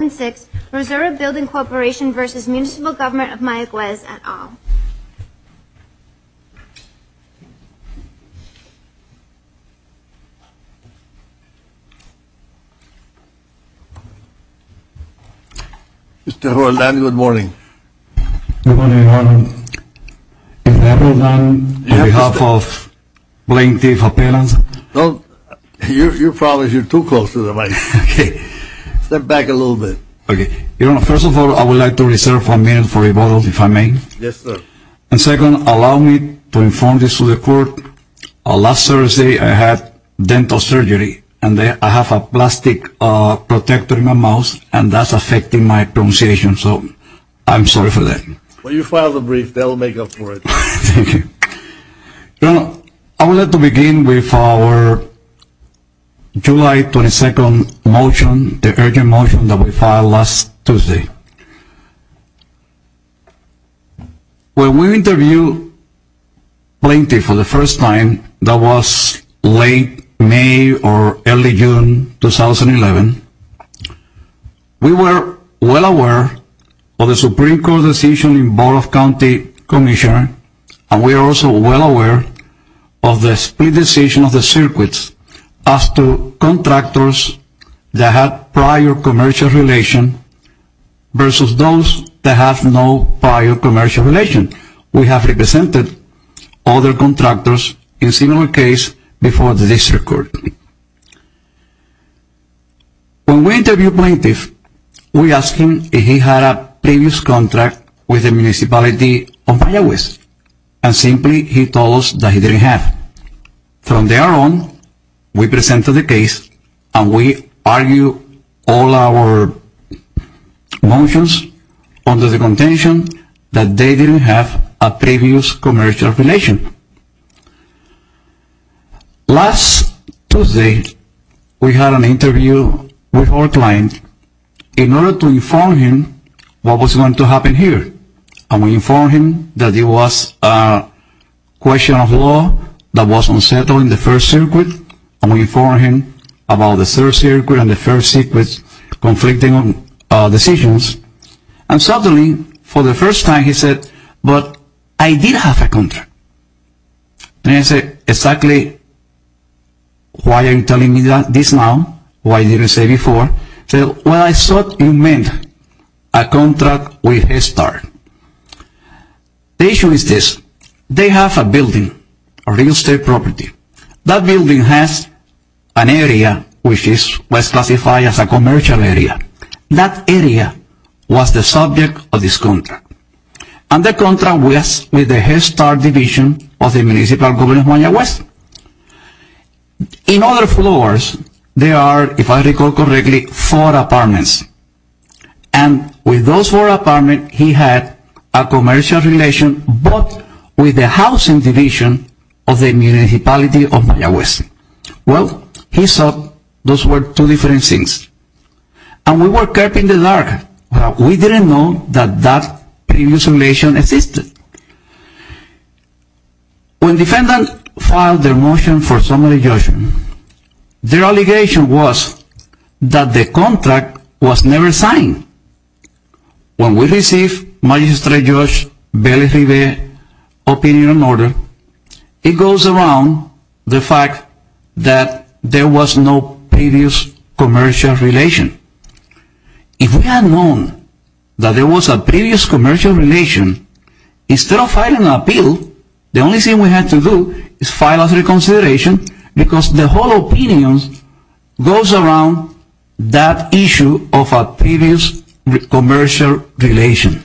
and six, Reserva Building Corporation v. Municipal Government of Mayaguez et al. Mr. Roland, good morning. Good morning, Your Honor. Mr. Roland, on behalf of plaintiff appellants. You're probably too close to the mic. Okay. Step back a little bit. Okay. Your Honor, first of all, I would like to reserve a minute for rebuttal, if I may. Yes, sir. And second, allow me to inform this to the court. Last Thursday, I had dental surgery, and I have a plastic protector in my mouth, and that's affecting my pronunciation. So, I'm sorry for that. When you file the brief, they'll make up for it. Thank you. Your Honor, I would like to begin with our July 22nd motion, the urgent motion that we filed last Tuesday. When we interviewed plaintiff for the first time, that was late May or early June 2011, we were well aware of the Supreme Court decision in Board of County Commissioner, and we were also well aware of the split decision of the circuits as to contractors that had prior commercial relation versus those that have no prior commercial relation. We have represented other contractors in similar case before the district court. When we interviewed plaintiff, we asked him if he had a previous contract with the municipality of Valle West, and simply he told us that he didn't have. From there on, we presented the case, and we argued all our motions under the contention that they didn't have a previous commercial relation. Last Tuesday, we had an interview with our client in order to inform him what was going to happen here, and we informed him that it was a question of law that was unsettled in the first circuit, and we informed him about the third circuit and the first circuit's conflicting decisions. And suddenly, for the first time, he said, but I did have a contract. And I said, exactly why are you telling me this now? Why didn't you say before? He said, well, I thought you meant a contract with Head Start. The issue is this. They have a building, a real estate property. That building has an area which is classified as a commercial area. That area was the subject of this contract, and the contract was with the Head Start division of the municipality of Valle West. In other floors, there are, if I recall correctly, four apartments, and with those four apartments, he had a commercial relation, but with the housing division of the municipality of Valle West. Well, he said those were two different things. And we woke up in the dark. We didn't know that that previous relation existed. When defendants filed their motion for summary judgment, their allegation was that the contract was never signed. When we received Magistrate Judge Bailey's opinion and order, it goes around the fact that there was no previous commercial relation. If we had known that there was a previous commercial relation, instead of filing an appeal, the only thing we had to do is file a reconsideration because the whole opinion goes around that issue of a previous commercial relation.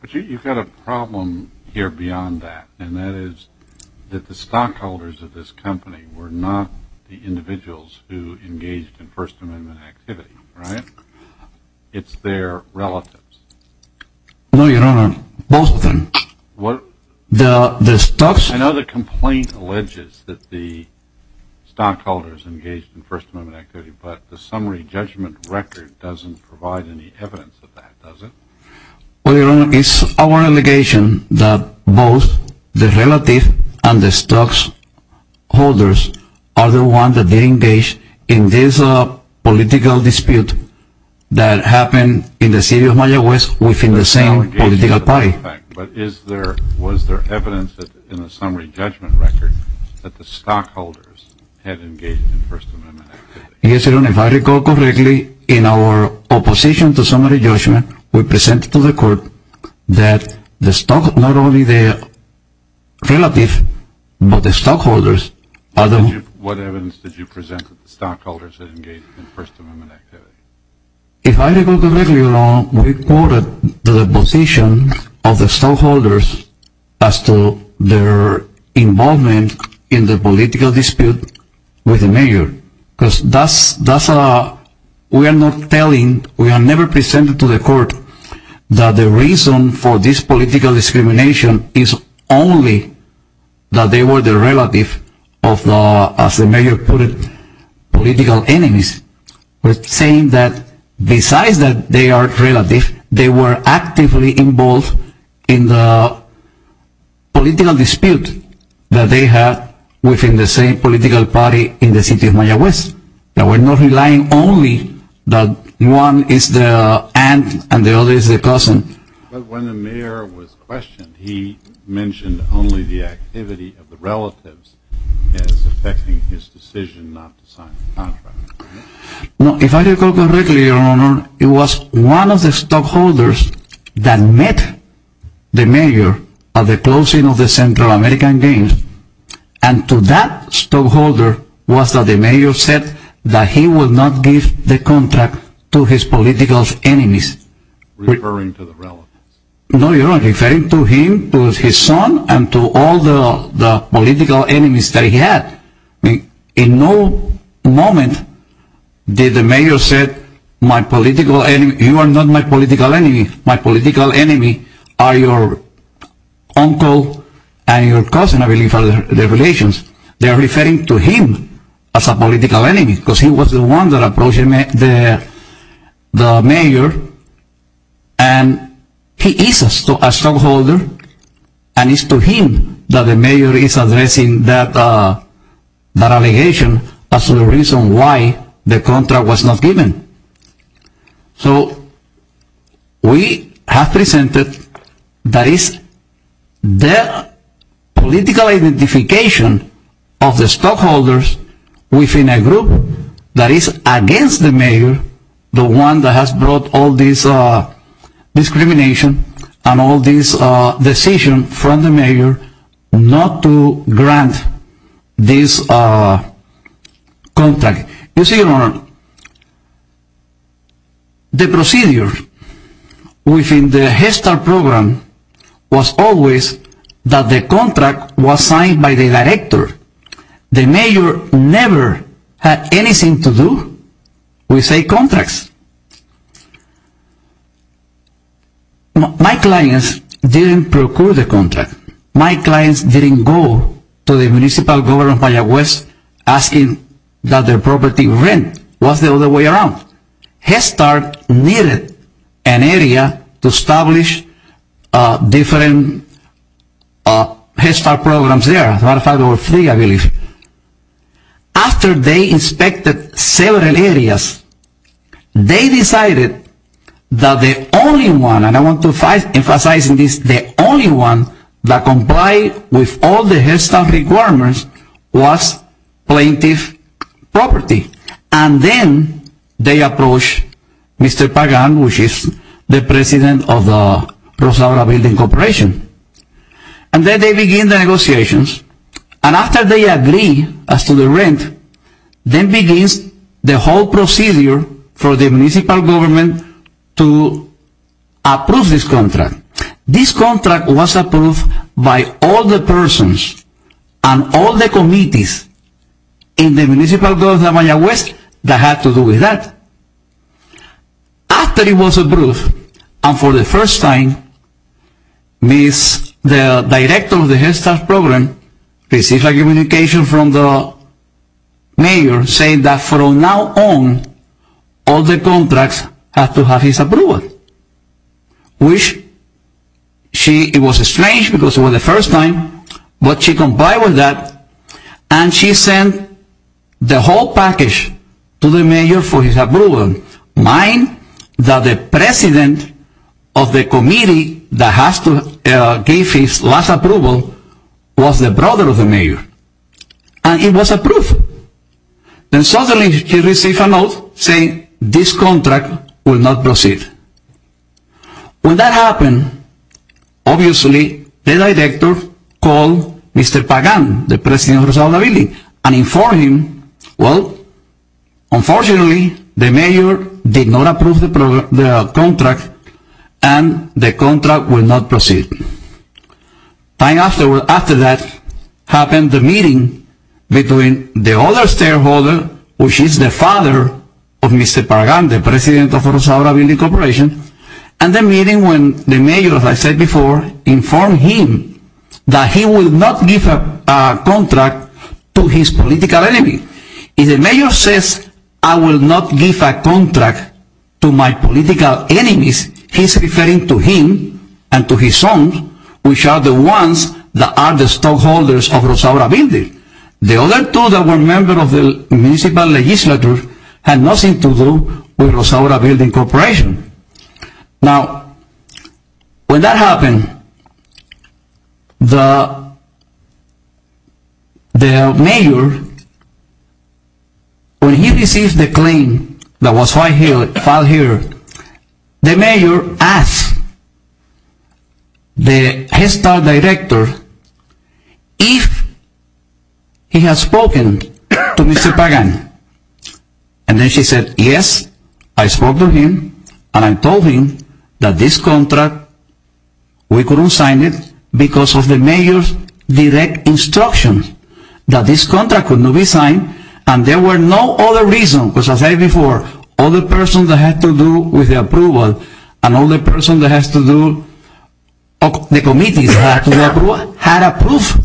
But you've got a problem here beyond that, and that is that the stockholders of this company were not the individuals who engaged in First Amendment activity, right? It's their relatives. No, Your Honor, both of them. What? The stocks. I know the complaint alleges that the stockholders engaged in First Amendment activity, but the summary judgment record doesn't provide any evidence of that, does it? Well, Your Honor, it's our allegation that both the relative and the stockholders are the ones that engaged in this political dispute that happened in the city of Valle West within the same political party. But was there evidence in the summary judgment record that the stockholders had engaged in First Amendment activity? Yes, Your Honor, if I recall correctly, in our opposition to summary judgment, we presented to the court that not only the relative but the stockholders are the ones. What evidence did you present that the stockholders had engaged in First Amendment activity? If I recall correctly, Your Honor, we quoted the position of the stockholders as to their involvement in the political dispute with the mayor, because we are not telling, we are never presenting to the court that the reason for this political discrimination is only that they were the relative of the, as the mayor put it, political enemies. We're saying that besides that they are relative, they were actively involved in the political dispute that they had within the same political party in the city of Valle West. Now, we're not relying only that one is the aunt and the other is the cousin. But when the mayor was questioned, he mentioned only the activity of the relatives as affecting his decision not to sign the contract. If I recall correctly, Your Honor, it was one of the stockholders that met the mayor at the closing of the Central American Games, and to that stockholder was that the mayor said that he would not give the contract to his political enemies. Referring to the relatives. No, Your Honor. Referring to him, to his son, and to all the political enemies that he had. In no moment did the mayor say, you are not my political enemy. My political enemy are your uncle and your cousin, I believe, are their relations. They are referring to him as a political enemy, because he was the one that approached the mayor, and he is a stockholder, and it's to him that the mayor is addressing that allegation as to the reason why the contract was not given. So, we have presented that it's the political identification of the stockholders within a group that is against the mayor, the one that has brought all this discrimination and all this decision from the mayor not to grant this contract. You see, Your Honor, the procedure within the HESTAR program was always that the contract was signed by the director. The mayor never had anything to do with a contract. My clients didn't procure the contract. My clients didn't go to the municipal government of Valladolid asking that their property rent. It was the other way around. HESTAR needed an area to establish different HESTAR programs there. After they inspected several areas, they decided that the only one, and I want to emphasize this, the only one that complied with all the HESTAR requirements was plaintiff property. And then they approached Mr. Pagan, who is the president of the Rosado La Vida Corporation. And then they began the negotiations. And after they agreed as to the rent, then begins the whole procedure for the municipal government to approve this contract. This contract was approved by all the persons and all the committees in the municipal government of Valladolid that had to do with that. After it was approved, and for the first time, the director of the HESTAR program received a communication from the mayor saying that from now on, all the contracts have to have his approval, which it was strange because it was the first time, but she complied with that, and she sent the whole package to the mayor for his approval, mind that the president of the committee that gave his last approval was the brother of the mayor. And it was approved. And suddenly he received a note saying this contract will not proceed. When that happened, obviously, the director called Mr. Pagan, the president of Rosado La Vida, and informed him, well, unfortunately, the mayor did not approve the contract, and the contract will not proceed. Time after that happened the meeting between the other stakeholder, which is the father of Mr. Pagan, the president of Rosado La Vida Corporation, and the meeting when the mayor, as I said before, informed him that he will not give a contract to his political enemy. If the mayor says, I will not give a contract to my political enemies, he's referring to him and to his son, which are the ones that are the stockholders of Rosado La Vida. The other two that were members of the municipal legislature had nothing to do with Rosado La Vida Corporation. Now, when that happened, the mayor, when he received the claim that was filed here, the mayor asked the Head Start director if he had spoken to Mr. Pagan. And then she said, yes, I spoke to him, and I told him that this contract, we couldn't sign it because of the mayor's direct instruction that this contract could not be signed, and there were no other reasons, because as I said before, all the persons that have to do with the approval, and all the persons that have to do, the committees that have to do with the approval, had approved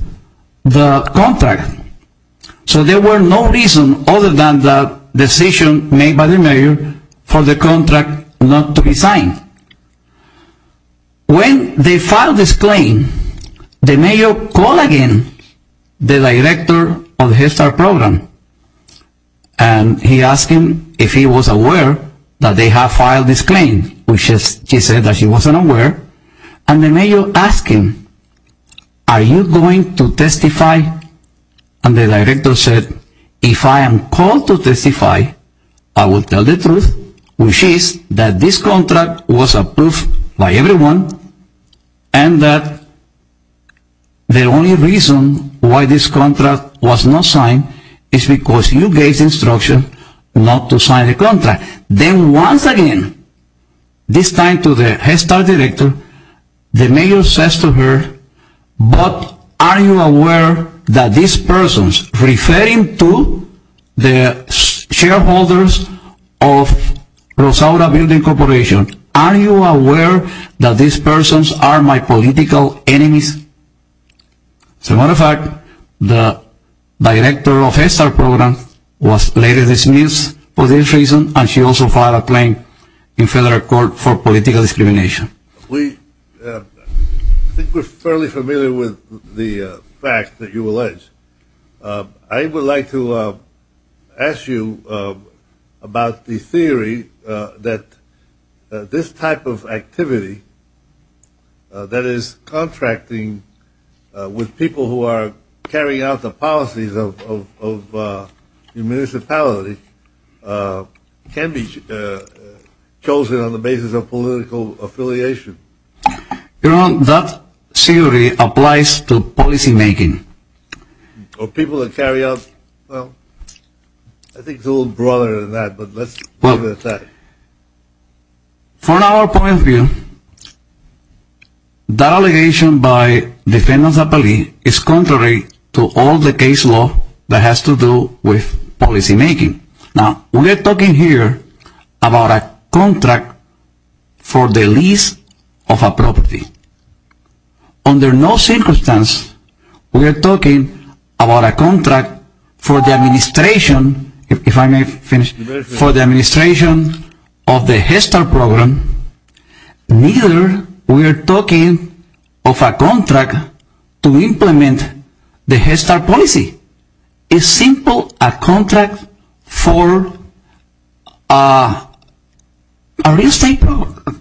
the contract. So there were no reasons other than the decision made by the mayor for the contract not to be signed. When they filed this claim, the mayor called again the director of the Head Start program, and he asked him if he was aware that they had filed this claim, which she said that she wasn't aware, and the mayor asked him, are you going to testify? And the director said, if I am called to testify, I will tell the truth, which is that this contract was approved by everyone, and that the only reason why this contract was not signed is because you gave the instruction not to sign the contract. Then once again, this time to the Head Start director, the mayor says to her, but are you aware that these persons, referring to the shareholders of Rosado Building Corporation, are you aware that these persons are my political enemies? As a matter of fact, the director of the Head Start program was later dismissed for this reason, and she also filed a claim in federal court for political discrimination. I think we're fairly familiar with the fact that you allege. I would like to ask you about the theory that this type of activity, that is contracting with people who are carrying out the policies of the municipality, can be chosen on the basis of political affiliation. You know, that theory applies to policy making. Or people that carry out, well, I think it's a little broader than that, but let's leave it at that. From our point of view, that allegation by defendants appellee is contrary to all the case law that has to do with policy making. Now, we are talking here about a contract for the lease of a property. Under no circumstance, we are talking about a contract for the administration, if I may finish, for the administration of the Head Start program, neither we are talking of a contract to implement the Head Start policy. It's simple, a contract for a real estate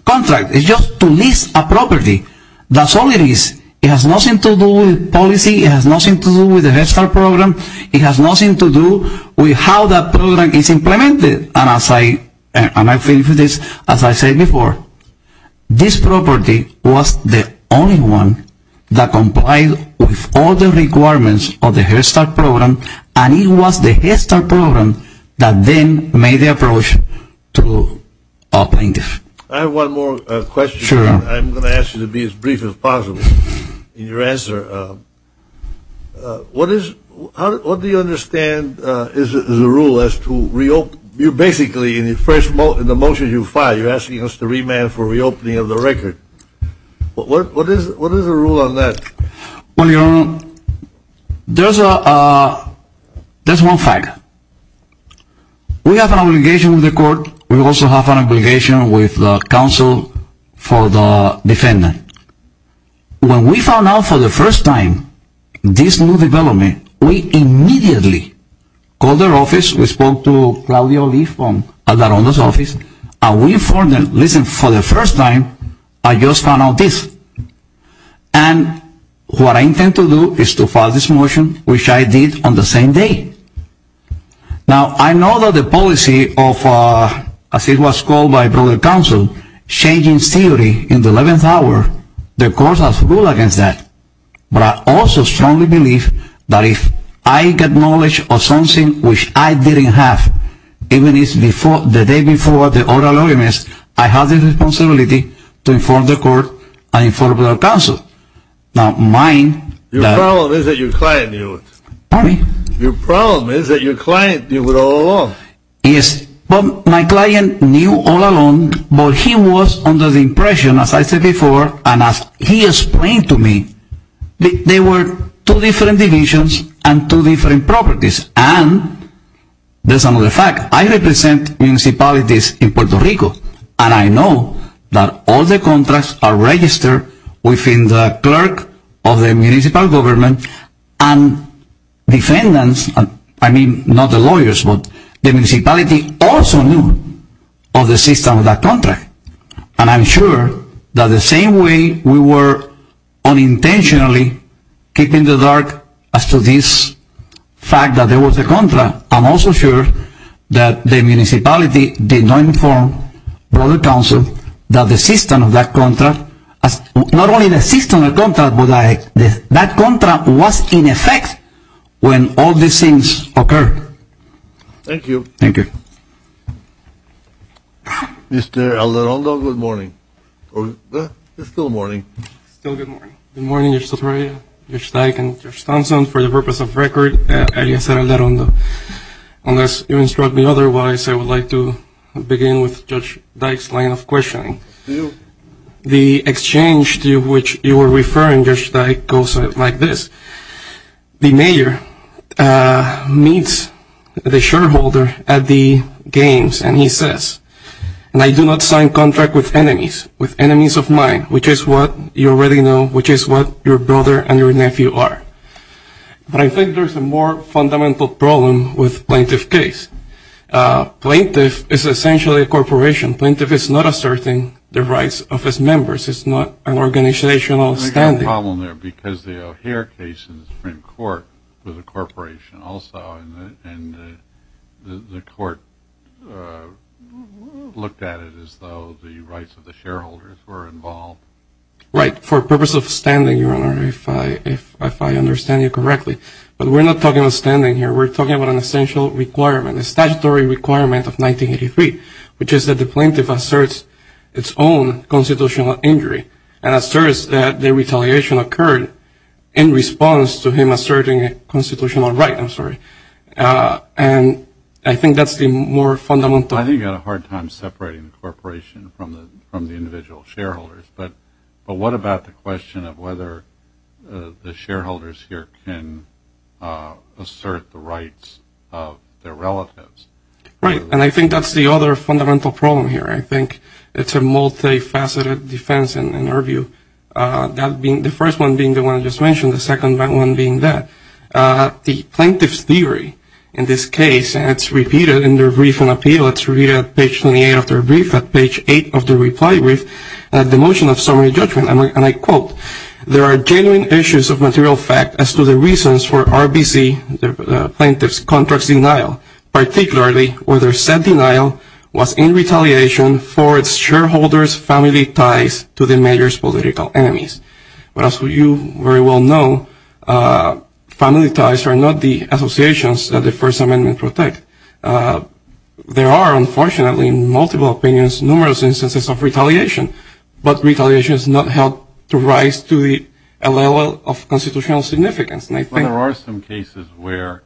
contract. It's just to lease a property. That's all it is. It has nothing to do with policy. It has nothing to do with the Head Start program. It has nothing to do with how that program is implemented. And as I say before, this property was the only one that complied with all the requirements of the Head Start program, and it was the Head Start program that then made the approach to a plaintiff. I have one more question. Sure. I'm going to ask you to be as brief as possible in your answer. What do you understand is the rule as to reopen? Basically, in the motion you filed, you're asking us to remand for reopening of the record. What is the rule on that? Well, your Honor, there's one fact. We have an obligation with the court. When we found out for the first time this new development, we immediately called our office. We spoke to Claudio Lee from Alvarado's office, and we informed them, listen, for the first time, I just found out this. And what I intend to do is to file this motion, which I did on the same day. Now, I know that the policy of, as it was called by the counsel, changing theory in the 11th hour, the court has a rule against that. But I also strongly believe that if I get knowledge of something which I didn't have, even the day before the oral arguments, I have the responsibility to inform the court and inform the counsel. Your problem is that your client knew it. Pardon me? Your problem is that your client knew it all along. Yes, but my client knew all along, but he was under the impression, as I said before, and as he explained to me, there were two different divisions and two different properties. And there's another fact. I represent municipalities in Puerto Rico, and I know that all the contracts are registered within the clerk of the municipal government, and defendants, I mean, not the lawyers, but the municipality also knew of the system of that contract. And I'm sure that the same way we were unintentionally keeping the dark as to this fact that there was a contract, I'm also sure that the municipality did not inform the counsel that the system of that contract, not only the system of that contract, but that contract was in effect when all these things occurred. Thank you. Thank you. Mr. Alderondo, good morning. It's still morning. It's still good morning. Good morning, Judge Soteria, Judge Dyke, and Judge Thompson. For the purpose of record, alias Alderondo, unless you instruct me otherwise, I would like to begin with Judge Dyke's line of questioning. The exchange to which you were referring, Judge Dyke, goes like this. The mayor meets the shareholder at the games, and he says, And I do not sign contracts with enemies, with enemies of mine, which is what you already know, which is what your brother and your nephew are. But I think there's a more fundamental problem with plaintiff case. Plaintiff is essentially a corporation. Plaintiff is not asserting the rights of its members. It's not an organizational standard. There's a problem there because the O'Hare case in the Supreme Court was a corporation also, and the court looked at it as though the rights of the shareholders were involved. Right. For purpose of standing, Your Honor, if I understand you correctly, but we're not talking about standing here. We're talking about an essential requirement, a statutory requirement of 1983, which is that the plaintiff asserts its own constitutional injury and asserts that the retaliation occurred in response to him asserting a constitutional right. I'm sorry. And I think that's the more fundamental. I think you had a hard time separating the corporation from the individual shareholders. But what about the question of whether the shareholders here can assert the rights of their relatives? Right. And I think that's the other fundamental problem here. I think it's a multifaceted defense in our view. The first one being the one I just mentioned, the second one being that. The plaintiff's theory in this case, and it's repeated in their brief and appeal, it's repeated at page 28 of their brief, at page 8 of their reply brief, the motion of summary judgment. And I quote, there are genuine issues of material fact as to the reasons for RBC, the plaintiff's contract's denial, particularly whether said denial was in retaliation for its shareholders' family ties to the mayor's political enemies. But as you very well know, family ties are not the associations that the First Amendment protects. There are, unfortunately, in multiple opinions, numerous instances of retaliation, but retaliation has not helped to rise to the level of constitutional significance. There are some cases where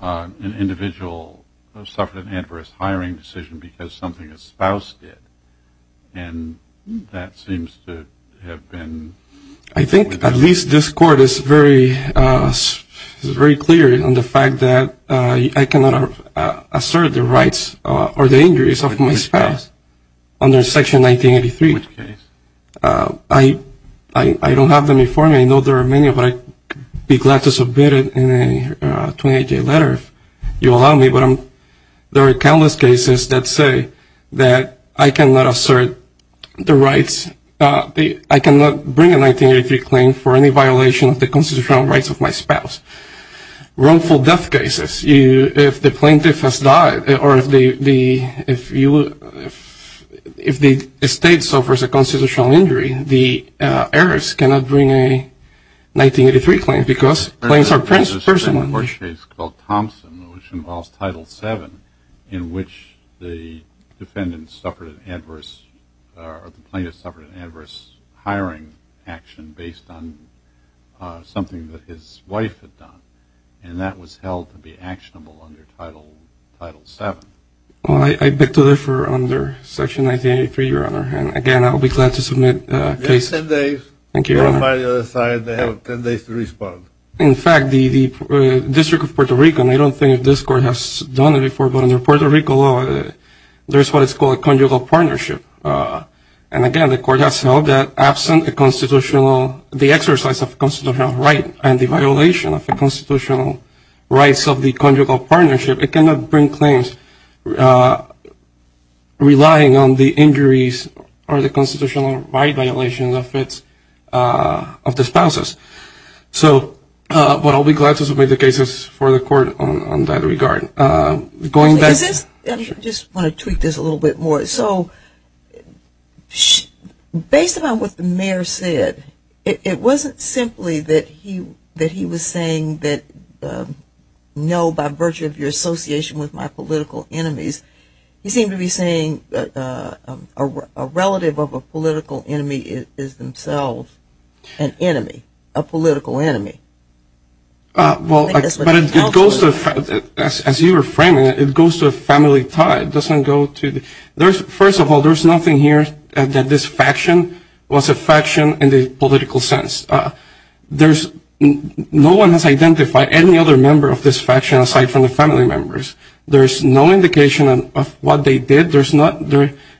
an individual suffered an adverse hiring decision because something a spouse did, and that seems to have been. I think at least this Court is very clear on the fact that I cannot assert the rights or the injuries of my spouse. Under Section 1983, I don't have them before me. I know there are many, but I'd be glad to submit it in a 28-day letter if you allow me. But there are countless cases that say that I cannot assert the rights. I cannot bring a 1983 claim for any violation of the constitutional rights of my spouse. Wrongful death cases, if the plaintiff has died or if the state suffers a constitutional injury, the heiress cannot bring a 1983 claim because claims are personal. There's a case called Thompson, which involves Title VII, in which the defendant suffered an adverse or the plaintiff suffered an adverse hiring action based on something that his wife had done, and that was held to be actionable under Title VII. Well, I beg to differ under Section 1983, Your Honor, and, again, I'll be glad to submit a case. You have 10 days. Thank you, Your Honor. You're on the other side. They have 10 days to respond. In fact, the District of Puerto Rico, and I don't think this Court has done it before, but under Puerto Rico law there's what is called a conjugal partnership. And, again, the Court has held that absent the constitutional, the exercise of constitutional right and the violation of the constitutional rights of the conjugal partnership, it cannot bring claims relying on the injuries or the constitutional right violations of the spouses. So, but I'll be glad to submit the cases for the Court on that regard. I just want to tweak this a little bit more. So based on what the mayor said, it wasn't simply that he was saying that, no, by virtue of your association with my political enemies, he seemed to be saying a relative of a political enemy is themselves an enemy, a political enemy. Well, but it goes to, as you were framing it, it goes to a family tie. It doesn't go to the, first of all, there's nothing here that this faction was a faction in the political sense. There's, no one has identified any other member of this faction aside from the family members. There's no indication of what they did. There's not,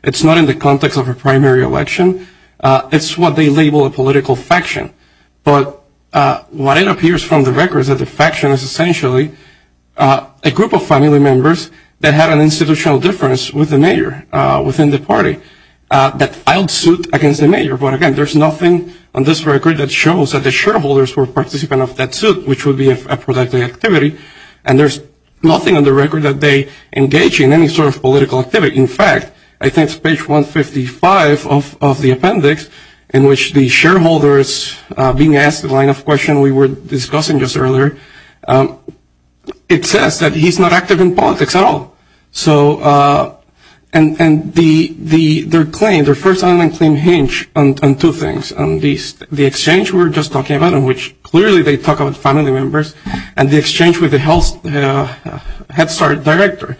it's not in the context of a primary election. It's what they label a political faction. But what it appears from the record is that the faction is essentially a group of family members that had an institutional difference with the mayor within the party that filed suit against the mayor. But again, there's nothing on this record that shows that the shareholders were participants of that suit, which would be a productive activity. And there's nothing on the record that they engage in any sort of political activity. In fact, I think it's page 155 of the appendix in which the shareholders being asked the line of question we were discussing just earlier, it says that he's not active in politics at all. So, and their claim, their first online claim hinge on two things, on the exchange we were just talking about in which clearly they talk about family members, and the exchange with the health head start director.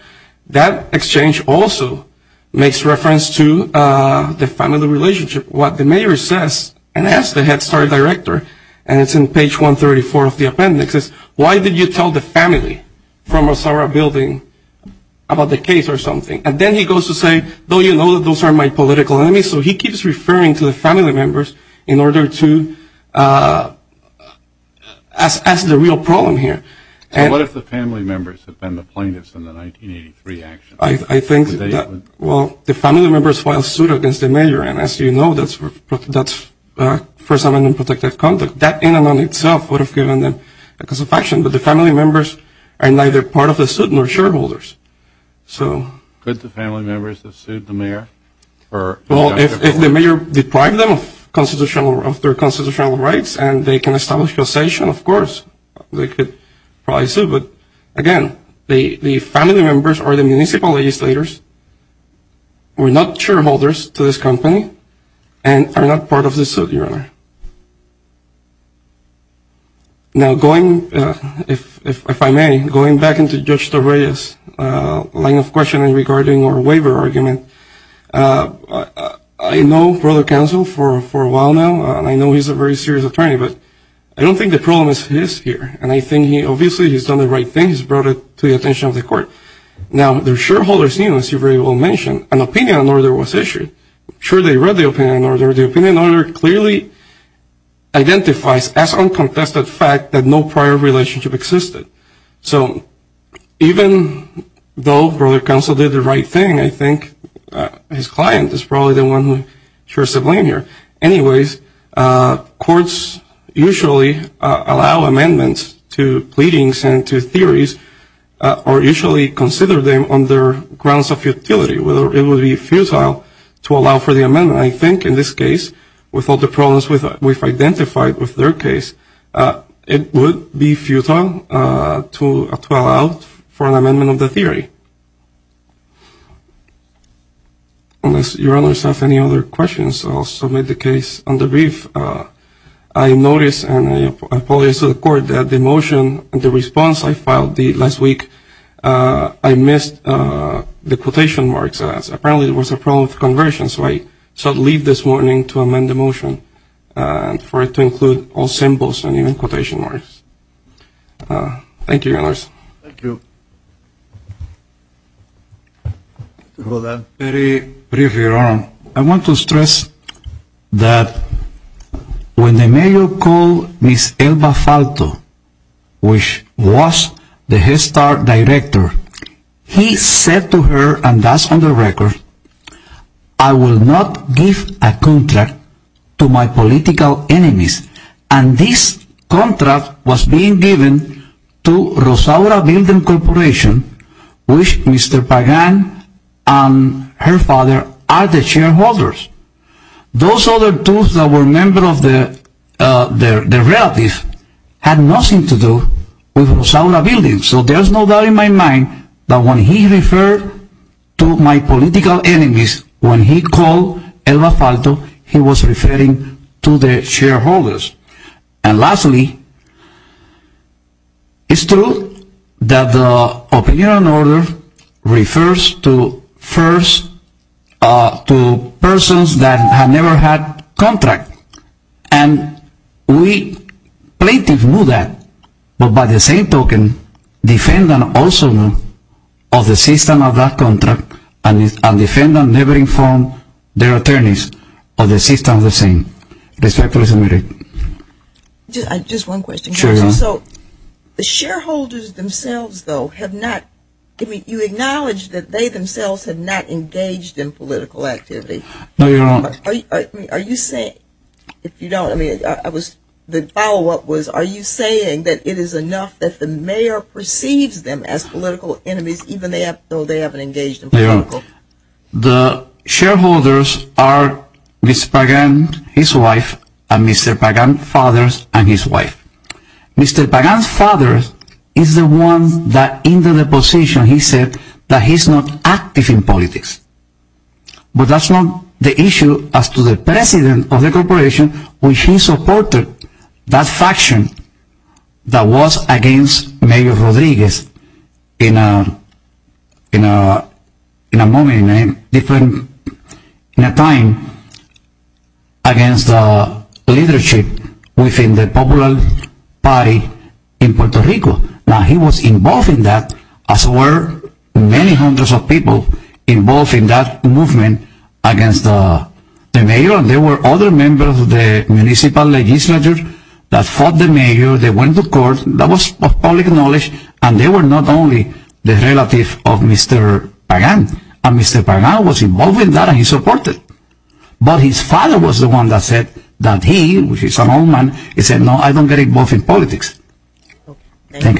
That exchange also makes reference to the family relationship. What the mayor says and asks the head start director, and it's in page 134 of the appendix, is why did you tell the family from Osara building about the case or something? And then he goes to say, though you know that those are my political enemies, so he keeps referring to the family members in order to ask the real problem here. So what if the family members have been the plaintiffs in the 1983 action? I think that, well, the family members filed suit against the mayor, and as you know that's First Amendment protected conduct. That in and of itself would have given them a case of action, but the family members are neither part of the suit nor shareholders. Could the family members have sued the mayor? Well, if the mayor deprived them of their constitutional rights and they can establish causation, of course. They could probably sue. But, again, the family members are the municipal legislators, were not shareholders to this company, and are not part of the suit, Your Honor. Now going, if I may, going back into Judge Torreyes' line of questioning regarding our waiver argument, I know Brother Counsel for a while now, and I know he's a very serious attorney, but I don't think the problem is his here. And I think he obviously has done the right thing. He's brought it to the attention of the court. Now the shareholders, as you very well mentioned, an opinion on order was issued. I'm sure they read the opinion on order. The opinion on order clearly identifies as uncontested fact that no prior relationship existed. So even though Brother Counsel did the right thing, I think his client is probably the one who should be blamed here. Anyways, courts usually allow amendments to pleadings and to theories, or usually consider them on their grounds of futility, whether it would be futile to allow for the amendment. I think in this case, with all the problems we've identified with their case, it would be futile to allow for an amendment of the theory. Unless your Honors have any other questions, I'll submit the case on the brief. I noticed, and I apologize to the court, that the motion and the response I filed last week, I missed the quotation marks. Apparently there was a problem with the conversion, so I shall leave this morning to amend the motion for it to include all symbols and even quotation marks. Thank you, Your Honors. Thank you. Thank you. Very briefly, Your Honors. I want to stress that when the mayor called Ms. Elba Falto, which was the Head Start director, he said to her, and that's on the record, I will not give a contract to my political enemies. And this contract was being given to Rosaura Building Corporation, which Mr. Pagan and her father are the shareholders. Those other two that were members of the relatives had nothing to do with Rosaura Building. So there's no doubt in my mind that when he referred to my political enemies, when he called Elba Falto, he was referring to the shareholders. And lastly, it's true that the opinion on order refers to persons that have never had contracts. And we plaintiff knew that, but by the same token, defendant also knew of the system of that contract, and defendant never informed their attorneys of the system of the same. Respectfully submitted. Just one question. Sure. So the shareholders themselves, though, have not, I mean, you acknowledge that they themselves have not engaged in political activity. No, Your Honor. Are you saying, if you don't, I mean, I was, the follow-up was, are you saying that it is enough that the mayor perceives them as political enemies, even though they haven't engaged in political? The shareholders are Mr. Pagan, his wife, and Mr. Pagan's father, and his wife. Mr. Pagan's father is the one that in the deposition he said that he's not active in politics. But that's not the issue as to the president of the corporation, which he supported that faction that was against Mayor Rodriguez in a moment, in a different, in a time, against the leadership within the popular party in Puerto Rico. Now, he was involved in that, as were many hundreds of people involved in that movement against the mayor. And there were other members of the municipal legislature that fought the mayor. They went to court. That was public knowledge. And they were not only the relative of Mr. Pagan. And Mr. Pagan was involved in that, and he supported it. But his father was the one that said that he, which is an old man, he said, I don't get involved in politics. Thank you.